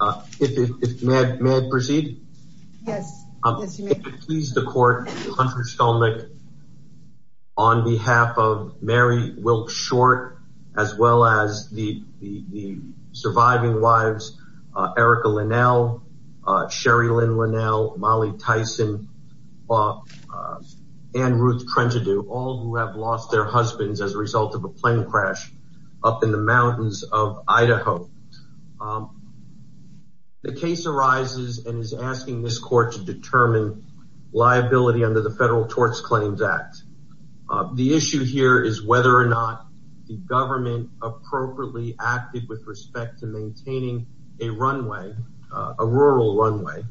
on behalf of Mary Wilkes Short as well as the the the surviving wives Erica Linnell, Sherri Lynn Linnell, Molly Tyson, and Ruth Trentedu, all who have lost their husbands as a result of a plane crash up in the mountains of Idaho. The case arises and is asking this court to determine liability under the Federal Torts Claims Act. The issue here is whether or not the government appropriately acted with respect to maintaining a runway, a rural runway,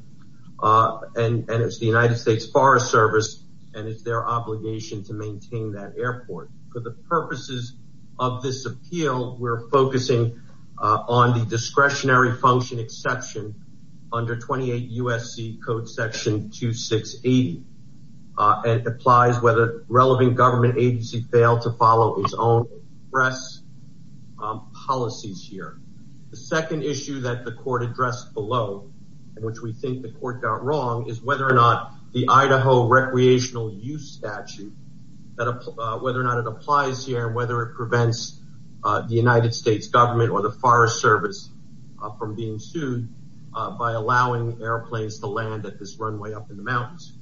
and and it's the United States Forest Service and it's their obligation to For the purposes of this appeal, we're focusing on the discretionary function exception under 28 U.S.C. Code Section 2680. It applies whether relevant government agencies fail to follow its own press policies here. The second issue that the court addressed below, which we think the court got wrong, is whether or not the Idaho Recreational Use Statute applies here and whether it prevents the United States government or the Forest Service from being sued by allowing airplanes to land at this runway up in the mountains.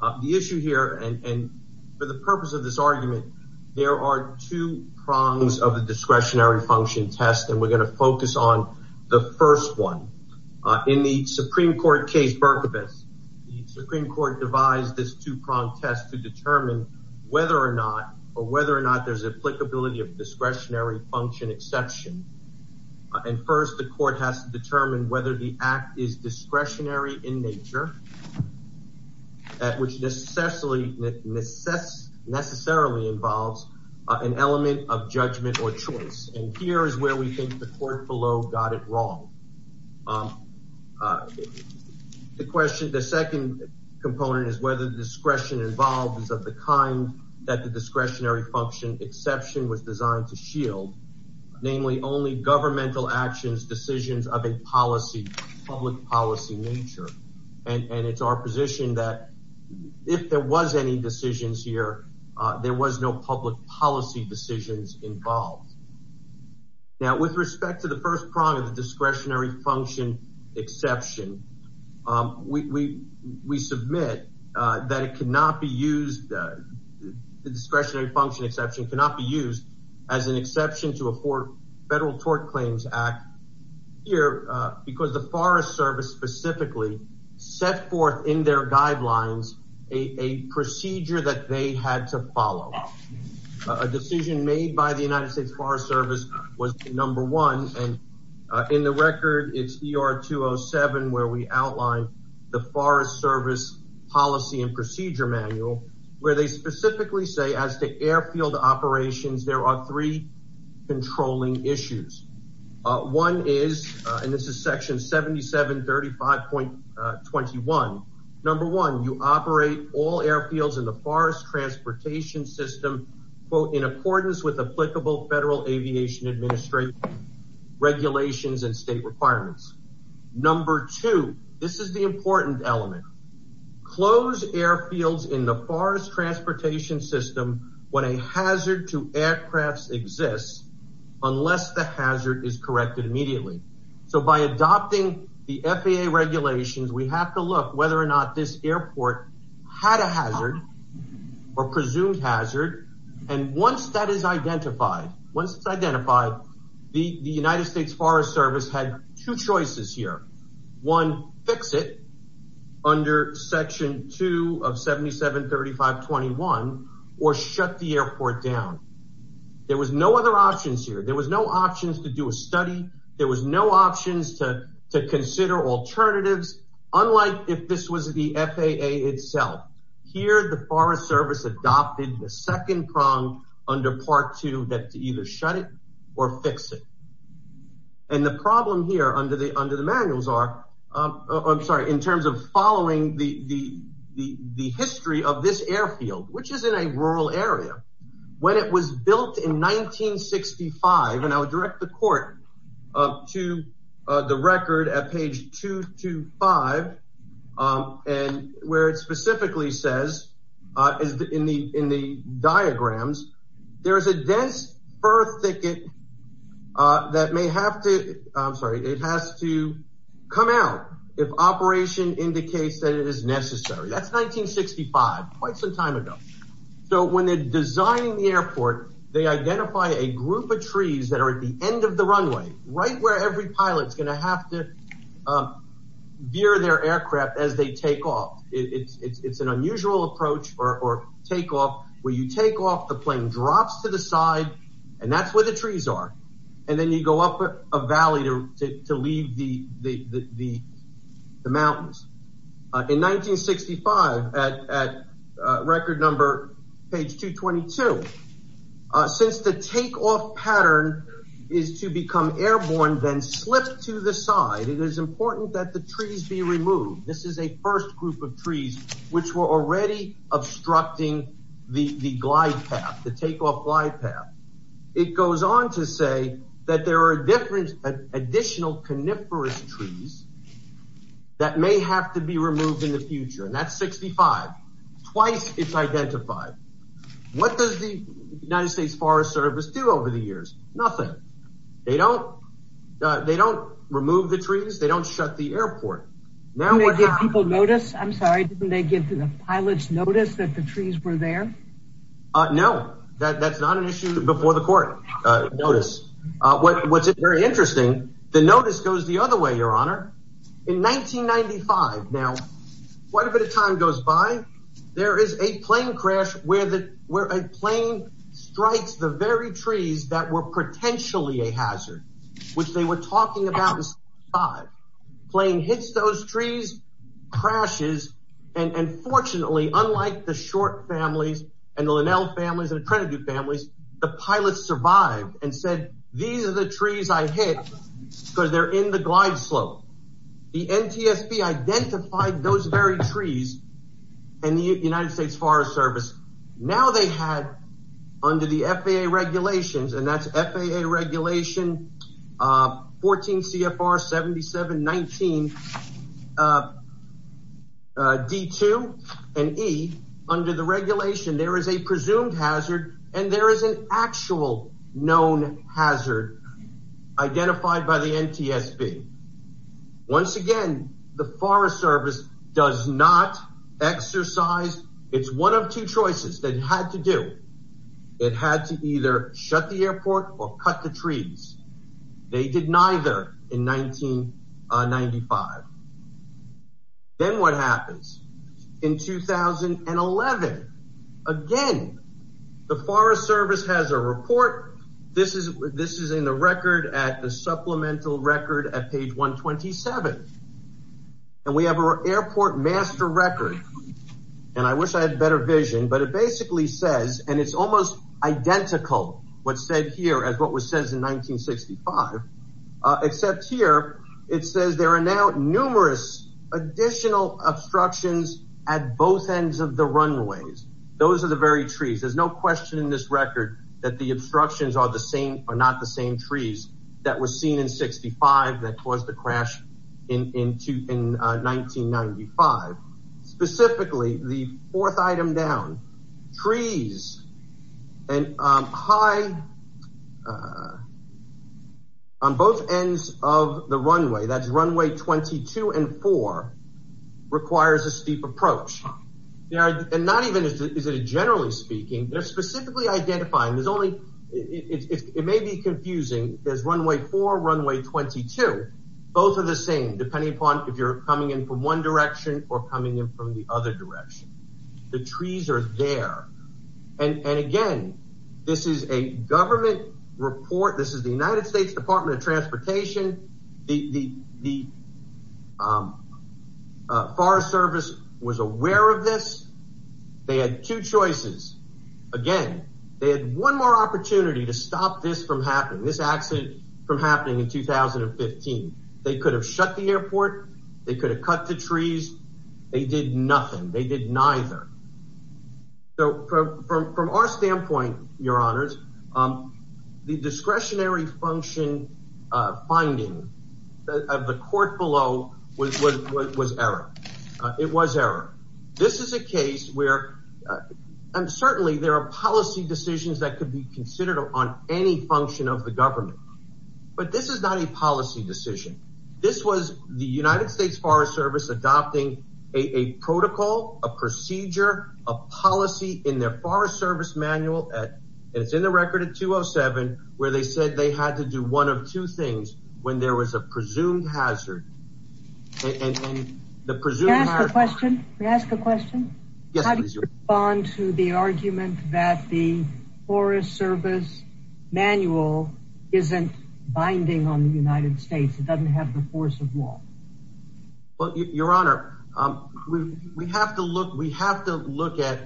The issue here, and for the purpose of this argument, there are two prongs of the discretionary function test and we're going to focus on the first one. In the Supreme Court devised this two-pronged test to determine whether or not or whether or not there's applicability of discretionary function exception. And first, the court has to determine whether the act is discretionary in nature, which necessarily involves an element of judgment or choice. And here is where we think the court below got it wrong. The question, the second component is whether the discretion involved is of the kind that the discretionary function exception was designed to shield, namely only governmental actions, decisions of a policy, public policy nature. And it's our position that if there was any decisions involved. Now with respect to the first prong of the discretionary function exception, we submit that it cannot be used, the discretionary function exception cannot be used as an exception to a federal tort claims act here because the Forest Service specifically set forth in their made by the United States Forest Service was number one and in the record it's ER 207 where we outline the Forest Service policy and procedure manual where they specifically say as the airfield operations there are three controlling issues. One is, and this is section 77 35.21, number one you operate all airfields in the forest transportation system quote in accordance with applicable federal aviation administration regulations and state requirements. Number two, this is the important element, close airfields in the forest transportation system when a hazard to aircrafts exists unless the hazard is corrected immediately. So by adopting the FAA regulations we have to look whether or not this airport had a hazard or presumed hazard and once that is identified, once it's identified the United States Forest Service had two choices here. One, fix it under section 2 of 77 35.21 or shut the airport down. There was no other options here, there was no options to do a study, there was no options to to consider alternatives unlike if this was the FAA itself. Here the Forest Service adopted the second prong under part two that to either shut it or fix it and the problem here under the under the manuals are I'm sorry in terms of following the the the history of this airfield which is in a rural area when it was built in 1965 and I would direct the court to the record at page 225 and where it specifically says in the in the diagrams there is a dense fur thicket that may have to I'm sorry it has to come out if operation indicates that it is necessary. That's 1965, quite some time ago. So when they're designing the airport they identify a group of trees that are at the end of the runway right where every pilot is going to have to veer their aircraft as they take off. It's an unusual approach or take off where you take off the plane drops to the side and that's where the trees are and then you go up a valley to leave the mountains. In 1965 at record number page 222 since the takeoff pattern is to become airborne then slip to the side it is important that the trees be removed. This is a first group of trees which were already obstructing the glide path the takeoff glide path. It goes on to say that there are different additional coniferous trees that may have to be removed in the future and that's 65. Twice it's identified. What does the United States Forest Service do over the years? Nothing. They don't they don't remove the trees they don't shut the airport. Didn't they give people notice? I'm sorry didn't they give the pilots notice that the trees were there? No that's not an issue before the court notice. What's very interesting the notice goes the other way your honor. In 1995 now quite a bit of time goes by there is a plane crash where that where a plane strikes the very trees that were potentially a hazard which they were talking about. Plane hits those trees crashes and unfortunately unlike the short families and the Linnell families and the Trinidad families the pilots survived and said these are the trees I hit because they're in the glide slope. The NTSB identified those very trees and the United States Forest Service now they had under the FAA regulations and that's FAA regulation 14 CFR 7719 D2 and E under the regulation there is a presumed hazard and there is an actual known hazard identified by the NTSB. Once again the Forest Service does not exercise it's one of two choices that had to do. It had to either shut the airport or cut the trees. They did neither in 1995. Then what happens in 2011 again the Forest Service has a report this is this is in the record at the supplemental record at page 127 and we have a airport master record and I wish I had better vision but it basically says and it's almost identical what's said here as what was says in 1965 except here it says there are now numerous additional obstructions at both ends of the runways. Those are the very trees. There's no question in this record that the obstructions are the same or not the same trees that were seen in 65 that caused the crash in 1995. Specifically the fourth item down trees and high on both ends of the runway that's runway 22 and 4 requires a steep approach yeah and not even is it a generally speaking they're specifically identifying there's only it may be confusing there's runway 4 runway 22 both are the same depending upon if you're coming in from one direction or trees are there and and again this is a government report this is the United States Department of Transportation the the Forest Service was aware of this they had two choices again they had one more opportunity to stop this from happening this accident from happening in 2015 they could have shut the airport they could have cut the trees they did nothing they did neither so from our standpoint your honors the discretionary function finding of the court below was what was error it was error this is a case where and certainly there are policy decisions that could be considered upon any function of the State's Forest Service adopting a protocol a procedure a policy in their Forest Service manual at it's in the record at 207 where they said they had to do one of two things when there was a presumed hazard the presumed question we ask a question bond to the argument that the Forest Service manual isn't binding on the United States it doesn't have the force of law but your honor we have to look we have to look at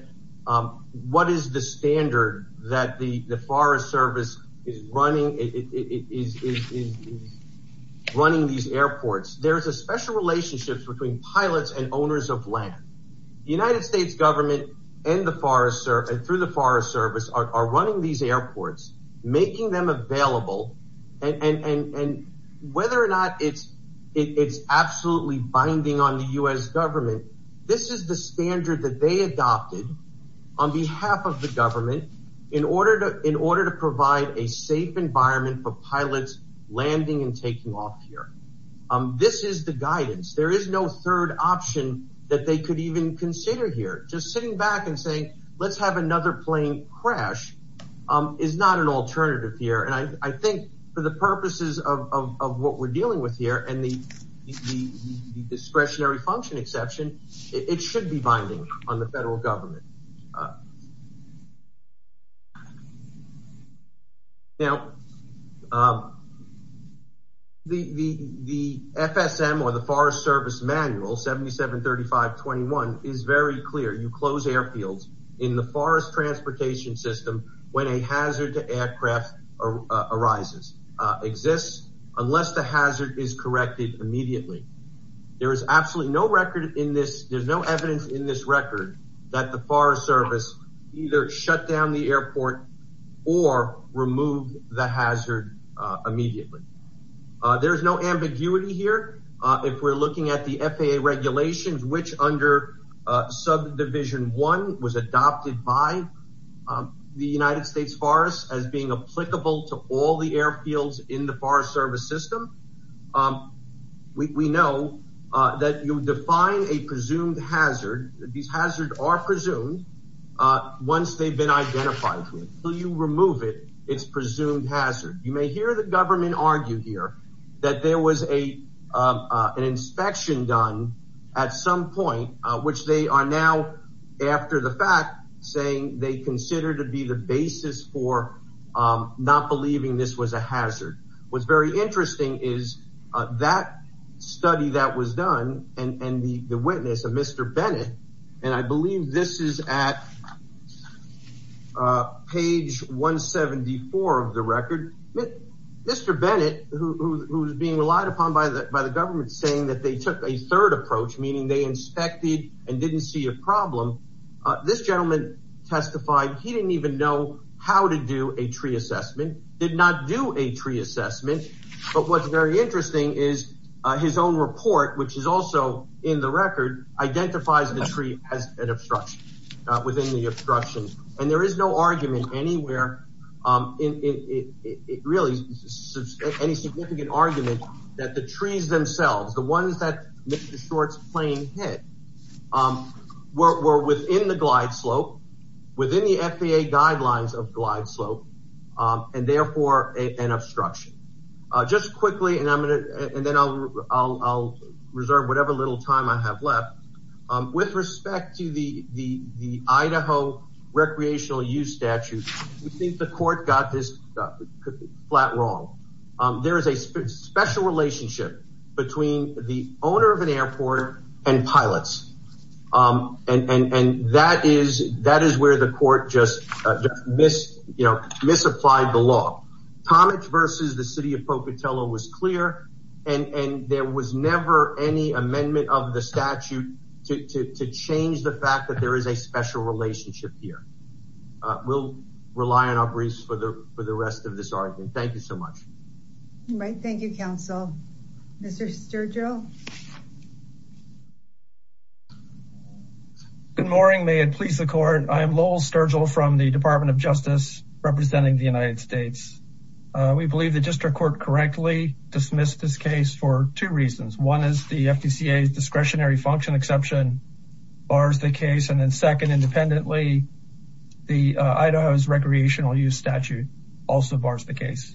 what is the standard that the the Forest Service is running it is running these airports there is a special relationship between pilots and owners of land the United States government and the Forest Service through the Forest Service are running these airports making them available and whether or not it's it's absolutely binding on the US government this is the standard that they adopted on behalf of the government in order to in order to provide a safe environment for pilots landing and taking off here this is the guidance there is no third option that they could even consider here just sitting back and saying let's have another plane crash is not an purposes of what we're dealing with here and the discretionary function exception it should be binding on the federal government now the FSM or the Forest Service manual 77 35 21 is very clear you close airfields in the forest transportation system when a hazard to aircraft arises exists unless the hazard is corrected immediately there is absolutely no record in this there's no evidence in this record that the Forest Service either shut down the airport or remove the hazard immediately there is no ambiguity here if we're looking at the FAA regulations which under subdivision one was adopted by the United States Forest as being applicable to all the airfields in the Forest Service system we know that you define a presumed hazard these hazards are presumed once they've been identified to it so you remove it it's presumed hazard you may hear the government argue here that there was a an inspection done at some point which they are now after the fact saying they consider to be the basis for not believing this was a hazard was very interesting is that study that was done and the witness of mr. Bennett and I believe this is at page 174 of the record mr. Bennett who's being relied upon by the government saying that they took a third approach meaning they testified he didn't even know how to do a tree assessment did not do a tree assessment but what's very interesting is his own report which is also in the record identifies the tree as an obstruction within the obstructions and there is no argument anywhere in it really any significant argument that the trees themselves the ones that mr. shorts plane hit were within the glide slope within the FAA guidelines of glide slope and therefore an obstruction just quickly and I'm gonna and then I'll reserve whatever little time I have left with respect to the the Idaho recreational use statute we think the court got this flat wrong there is a special relationship between the owner of an airport and pilots and and and that is that is where the court just missed you know misapplied the law Thomas versus the city of Pocatello was clear and and there was never any amendment of the statute to change the fact that there is a special relationship here we'll rely on our briefs for the for the rest of this argument thank you so much right Thank you counsel mr. Sturgill good morning may it please the court I am Lowell Sturgill from the Department of Justice representing the United States we believe the district court correctly dismissed this case for two reasons one is the FTC a discretionary function exception bars the case and then second independently the Idaho's recreational use statute also bars the case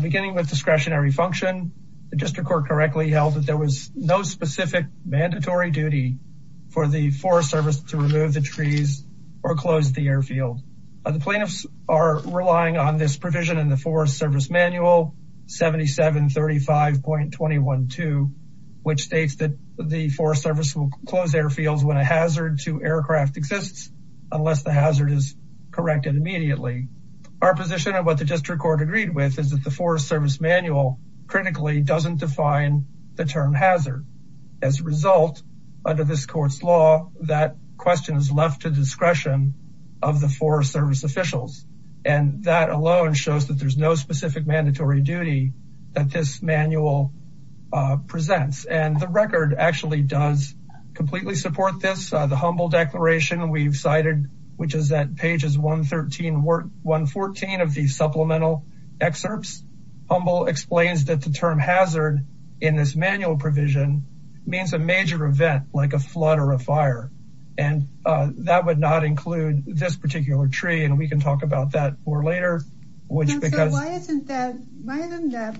beginning with discretionary function the district court correctly held that there was no specific mandatory duty for the Forest Service to remove the trees or close the airfield the plaintiffs are relying on this provision in the Forest Service manual 77 35 point 21 to which states that the Forest Service will close airfields when a hazard to aircraft exists unless the hazard is corrected immediately our position of what the district court agreed with is that the Forest Service manual critically doesn't define the term hazard as a result under this court's law that question is left to discretion of the Forest Service officials and that alone shows that there's no specific mandatory duty that this manual presents and the record actually does completely support this the humble declaration we've cited which is that pages 113 work 114 of these supplemental excerpts humble explains that the term hazard in this manual provision means a major event like a flood or a fire and that would not include this particular tree and we can talk about that more later which because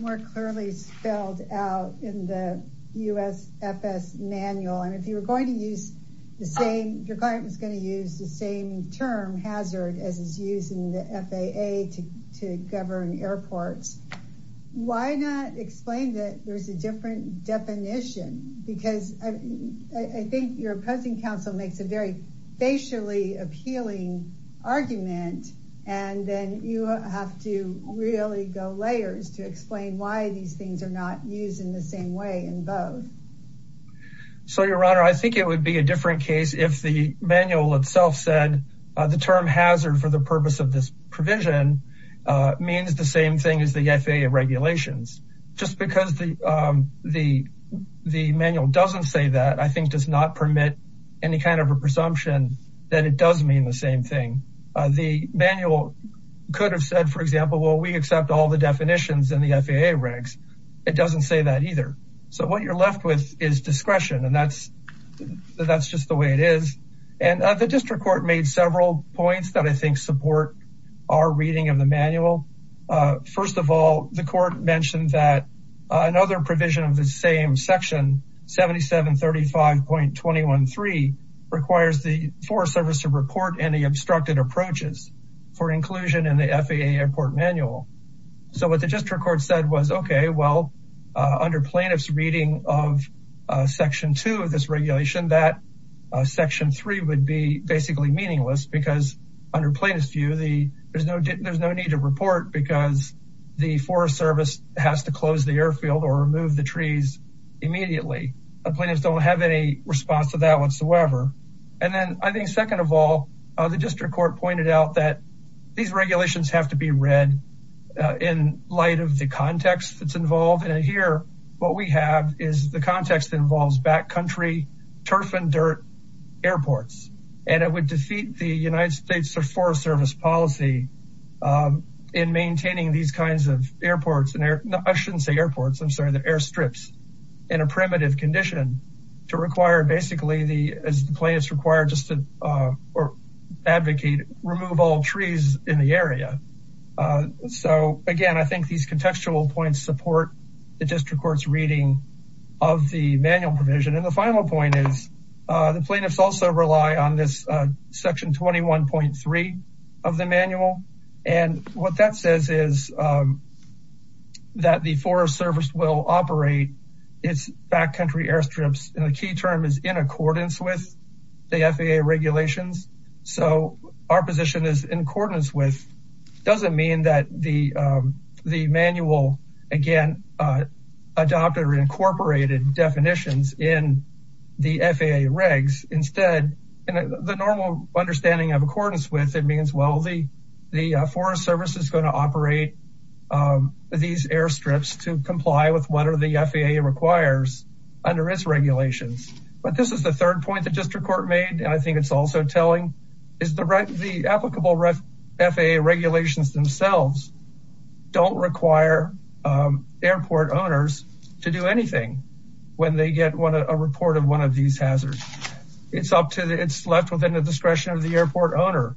more clearly spelled out in the US FS manual and if you were going to use the same your client was going to use the same term hazard as is using the FAA to govern airports why not explain that there's a different definition because I think your opposing counsel makes a very facially appealing argument and then you have to really go layers to explain why these things are not used in the same way in both so your honor I think it would be a different case if the manual itself said the term hazard for the purpose of this provision means the same thing as the FAA regulations just because the the the manual doesn't say that I think does not permit any kind of a presumption that it does mean the same thing the manual could have said for example well we accept all the definitions in the FAA regs it doesn't say that either so what you're left with is discretion and that's that's just the way it is and the district court made several points that I think support our reading of the manual first of all the court mentioned that another provision of the same section 77 35 point 21 3 requires the Forest Service to report any obstructed approaches for inclusion in the FAA airport manual so what the district court said was okay well under plaintiffs reading of section 2 of this regulation that section 3 would be basically meaningless because under plaintiff's view the there's no there's no need to report because the Forest Service has to close the airfield or remove the trees immediately the plaintiffs don't have any response to that whatsoever and then I think second of all the district court pointed out that these regulations have to be read in light of the context that's involved and here what we have is the context involves backcountry turf and dirt airports and it would defeat the United States or Forest Service policy in maintaining these kinds of airports and there I shouldn't say airports I'm sorry that airstrips in a primitive condition to require basically the plaintiffs required just to or advocate remove all trees in the area so again I contextual points support the district courts reading of the manual provision and the final point is the plaintiffs also rely on this section 21.3 of the manual and what that says is that the Forest Service will operate its backcountry airstrips and the key term is in accordance with the FAA regulations so our position is in accordance with doesn't mean that the manual again adopted or incorporated definitions in the FAA regs instead and the normal understanding of accordance with it means well the the Forest Service is going to operate these airstrips to comply with what are the FAA requires under its regulations but this is the third point the district court made and I think it's also telling is the right the applicable FAA regulations themselves don't require airport owners to do anything when they get one a report of one of these hazards it's up to the it's left within the discretion of the airport owner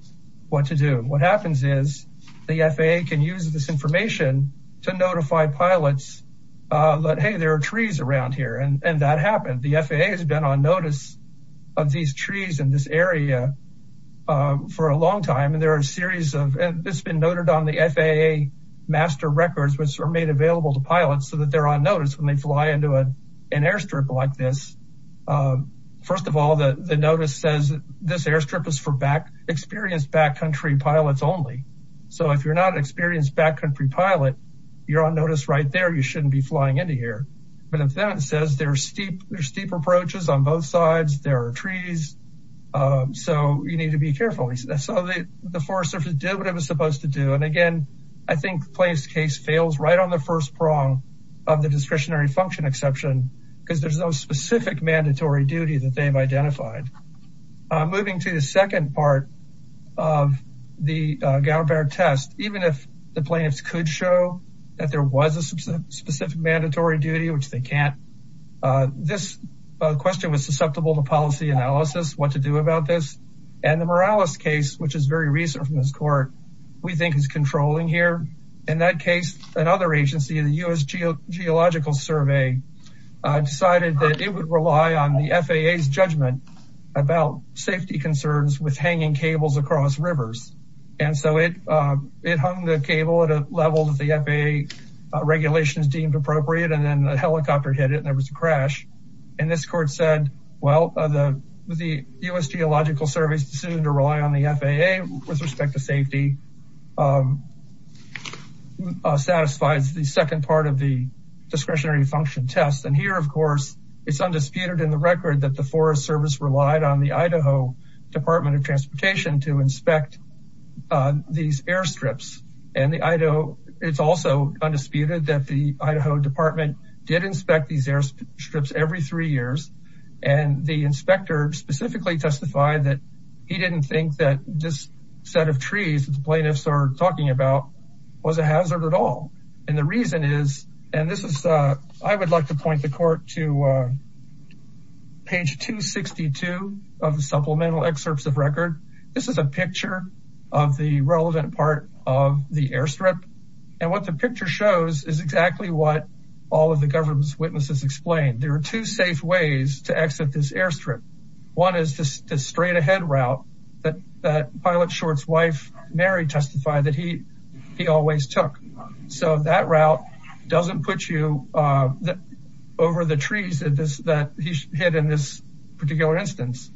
what to do what happens is the FAA can use this information to notify pilots but hey there are trees around here and that happened the FAA has been on notice of these trees in this area for a long time and there are a series of it's been noted on the FAA master records which are made available to pilots so that they're on notice when they fly into a an airstrip like this first of all the notice says this airstrip is for back experienced backcountry pilots only so if you're not experienced backcountry pilot you're on notice right there you shouldn't be flying into here but if that says they're steep there's steep approaches on both sides there are trees so you need to be careful so the Forest Service did what it was supposed to do and again I think the plaintiff's case fails right on the first prong of the discretionary function exception because there's no specific mandatory duty that they've identified moving to the second part of the Gower-Baird test even if the plaintiffs could show that there was a specific mandatory duty which they can't this question was susceptible to policy analysis what to do about this and the Morales case which is very recent from this court we think is controlling here in that case another agency in the US Geological Survey decided that it would rely on the FAA's judgment about safety concerns with hanging cables across rivers and so it it hung the cable at a level that the FAA regulations deemed appropriate and then a helicopter hit it and there was a crash and this court said well the the US Geological Survey's decision to rely on the FAA with respect to safety satisfies the second part of the discretionary function test and here of course it's undisputed in the record that the Forest Service relied on the Idaho Department of Transportation to inspect these airstrips and the Idaho it's also undisputed that the Idaho Department did inspect these airstrips every three years and the inspector specifically testified that he didn't think that this set of trees the plaintiffs are talking about was a hazard at all and the reason is and this is I would like to point the court to page 262 of the supplemental excerpts of record this is a picture of the relevant part of the airstrip and what the picture shows is exactly what all of the government's witnesses explained there are two safe ways to exit this airstrip one is just a straight-ahead route that that pilot shorts wife Mary testified that he he always took so that route doesn't put you over the trees that this that he hid in this particular instance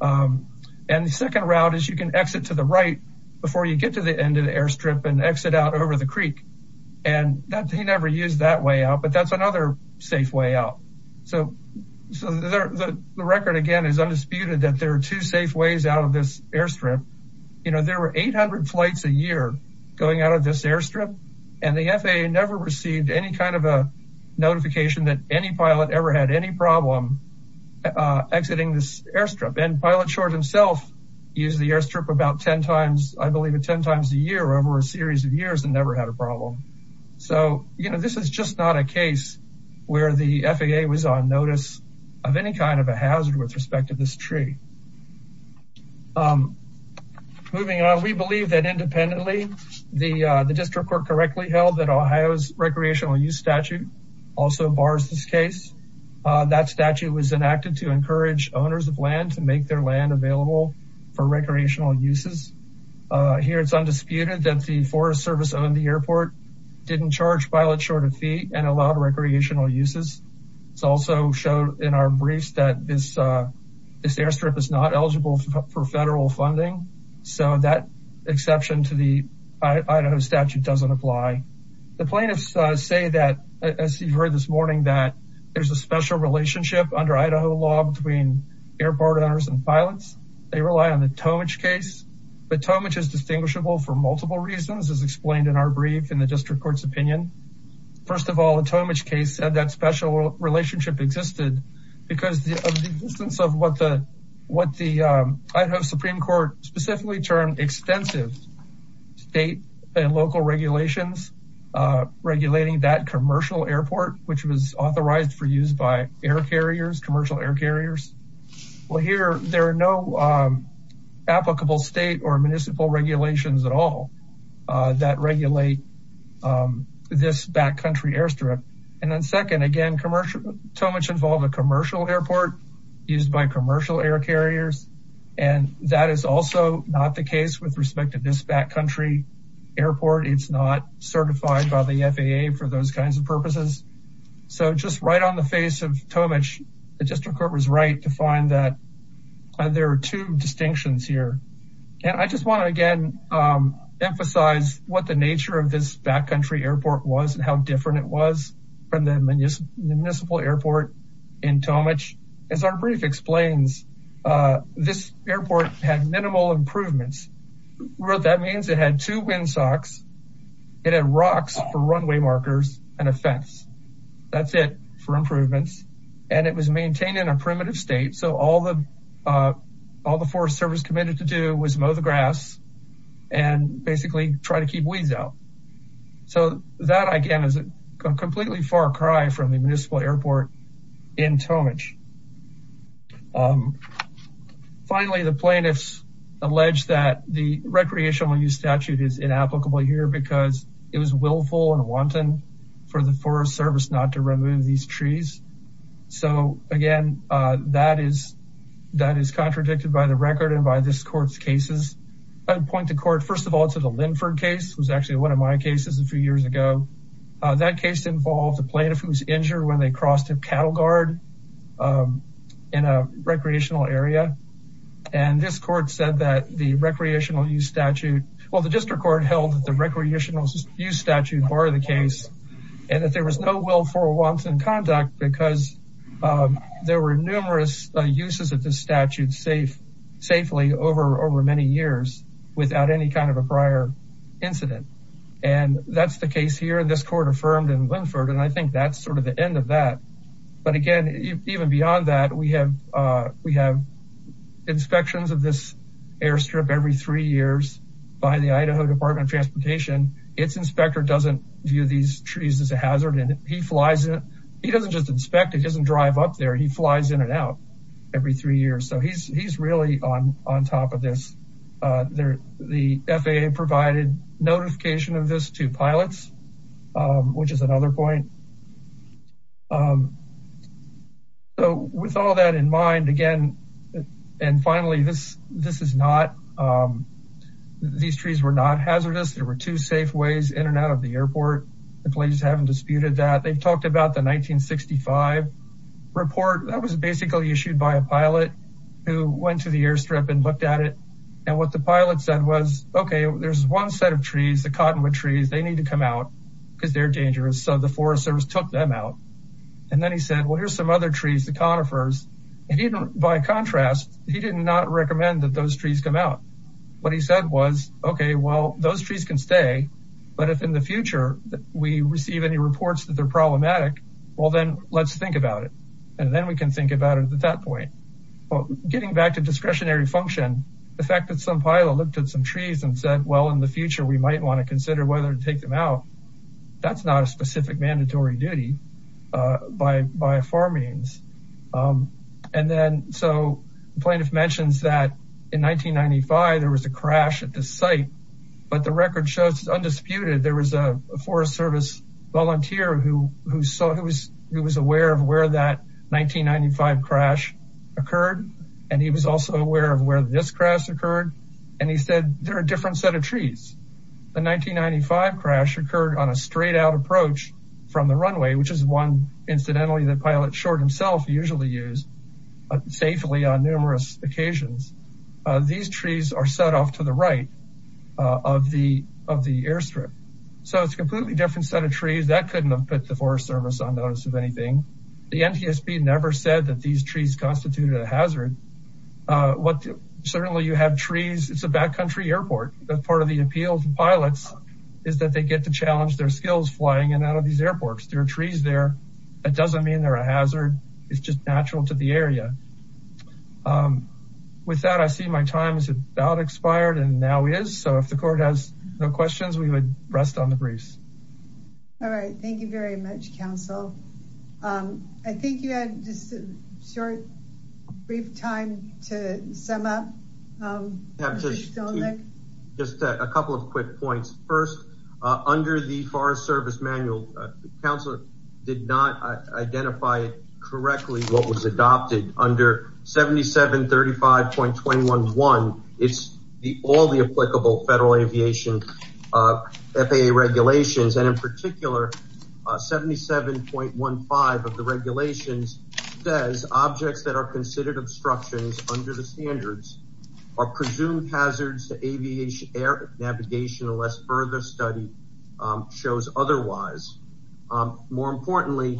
and the second route is you can exit to the right before you get to the end of the airstrip and exit out over the creek and that he never used that way out but that's another safe way out so the record again is undisputed that there are two safe ways out of this airstrip you know there were 800 flights a year going out of this airstrip and the FAA never received any kind of a notification that any pilot ever had any problem exiting this airstrip and pilot short himself used the airstrip about ten times I believe it ten times a year over a series of years and never had a problem so you know this is just not a case where the FAA was on notice of any kind of a hazard with respect to this tree moving on we believe that independently the the district court correctly held that Ohio's recreational use statute also bars this case that statute was enacted to encourage owners of land to make their land available for recreational uses here it's undisputed that the Forest Service owned the airport didn't charge pilot short of fee and allowed recreational uses it's also showed in our briefs that this this airstrip is not eligible for federal funding so that exception to the I don't statute doesn't apply the plaintiffs say that as you've heard this morning that there's a special relationship under Idaho law between airport owners and pilots they rely on the Tomich case but Tomich is distinguishable for multiple reasons as explained in our brief in the district court's opinion first of all the Tomich case said that special relationship existed because of the existence of what the what the Idaho Supreme Court specifically termed extensive state and local regulations regulating that commercial airport which was authorized for use by air carriers commercial air carriers well here there are no applicable state or municipal regulations at all that regulate this backcountry airstrip and then second again commercial Tomich involved a commercial airport used by commercial air carriers and that is also not the case with respect to this backcountry airport it's not certified by the FAA for those kinds of purposes so just right on the face of Tomich the district court was right to find that there are two distinctions here and I just want to again emphasize what the nature of this backcountry airport was and how different it was from the municipal airport in Tomich as our brief explains this airport had minimal improvements what that means it had two windsocks it had rocks for runway markers and a fence that's it for improvements and it was maintained in a primitive state so all the all the Forest Service committed to do was mow the grass and basically try to keep weeds out so that again is a completely far cry from the municipal airport in finally the plaintiffs alleged that the recreational use statute is inapplicable here because it was willful and wanton for the Forest Service not to remove these trees so again that is that is contradicted by the record and by this court's cases I would point the court first of all to the Linford case was actually one of my cases a few years ago that case involved a plaintiff who was cattle guard in a recreational area and this court said that the recreational use statute well the district court held that the recreational use statute bar the case and that there was no willful or wanton conduct because there were numerous uses of the statute safe safely over over many years without any kind of a prior incident and that's the case here this court affirmed in Linford and I think that's sort of the end of that but again even beyond that we have we have inspections of this airstrip every three years by the Idaho Department Transportation its inspector doesn't view these trees as a hazard and he flies it he doesn't just inspect it doesn't drive up there he flies in and out every three years so he's he's really on on top of this there the FAA provided notification of this to pilots which is another point so with all that in mind again and finally this this is not these trees were not hazardous there were two safe ways in and out of the airport the police haven't disputed that they've talked about the 1965 report that was basically issued by a pilot who went to the airstrip and looked at it and what the set of trees the cottonwood trees they need to come out because they're dangerous so the Forest Service took them out and then he said well here's some other trees the conifers and even by contrast he did not recommend that those trees come out what he said was okay well those trees can stay but if in the future that we receive any reports that they're problematic well then let's think about it and then we can think about it at that point well getting back to discretionary function the fact that some pilot looked at some trees and said well in the future we might want to consider whether to take them out that's not a specific mandatory duty by by far means and then so plaintiff mentions that in 1995 there was a crash at this site but the record shows it's undisputed there was a Forest Service volunteer who who saw who was who was aware of where that 1995 crash occurred and he was also aware of where this occurred and he said there are different set of trees the 1995 crash occurred on a straight-out approach from the runway which is one incidentally the pilot short himself usually use safely on numerous occasions these trees are set off to the right of the of the airstrip so it's completely different set of trees that couldn't have put the Forest Service on notice of anything the NTSB never said that these trees constituted a hazard what certainly you have trees it's a backcountry airport that part of the appeal to pilots is that they get to challenge their skills flying and out of these airports there are trees there that doesn't mean they're a hazard it's just natural to the area with that I see my time is about expired and now is so if the court has no questions we would rest on the briefs all right thank you very much counsel I think you had just a short brief time to sum up just a couple of quick points first under the Forest Service manual the council did not identify it correctly what was adopted under 7735.211 it's the all the applicable federal aviation FAA regulations and in particular 77.15 of the regulations says objects that are considered obstructions under the standards are presumed hazards to aviation air navigation unless further study shows otherwise more importantly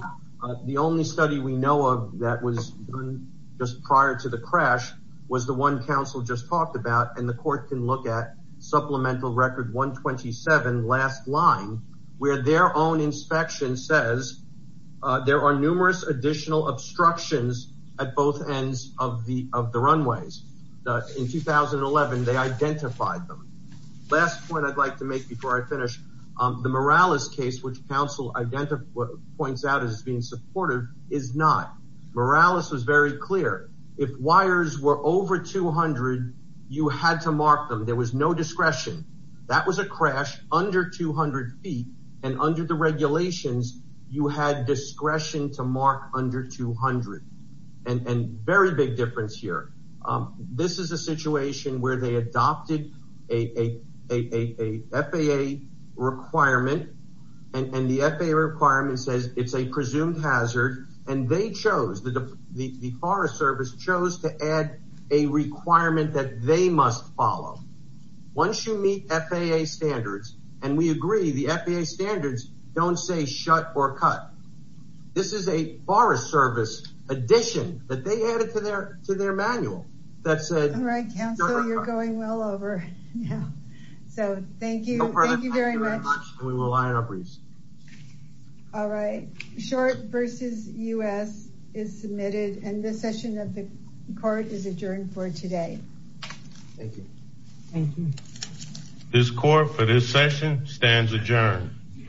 the only study we know of that was just prior to the crash was the one council just talked about and the court can look at supplemental record 127 last line where their own inspection says there are numerous additional obstructions at both ends of the of the runways in 2011 they identified them last point I'd like to make before I finish the Morales case which council identify points out as being supportive is not Morales was very clear if wires were over 200 you had to mark them there was no discretion that was a crash under 200 feet and under the regulations you had discretion to mark under 200 and and very big difference here this is a situation where they adopted a FAA requirement and hazard and they chose the Forest Service chose to add a requirement that they must follow once you meet FAA standards and we agree the FAA standards don't say shut or cut this is a Forest Service addition that they added to their to thank you all right short versus u.s. is submitted and this session of the court is adjourned for today this court for this session stands adjourned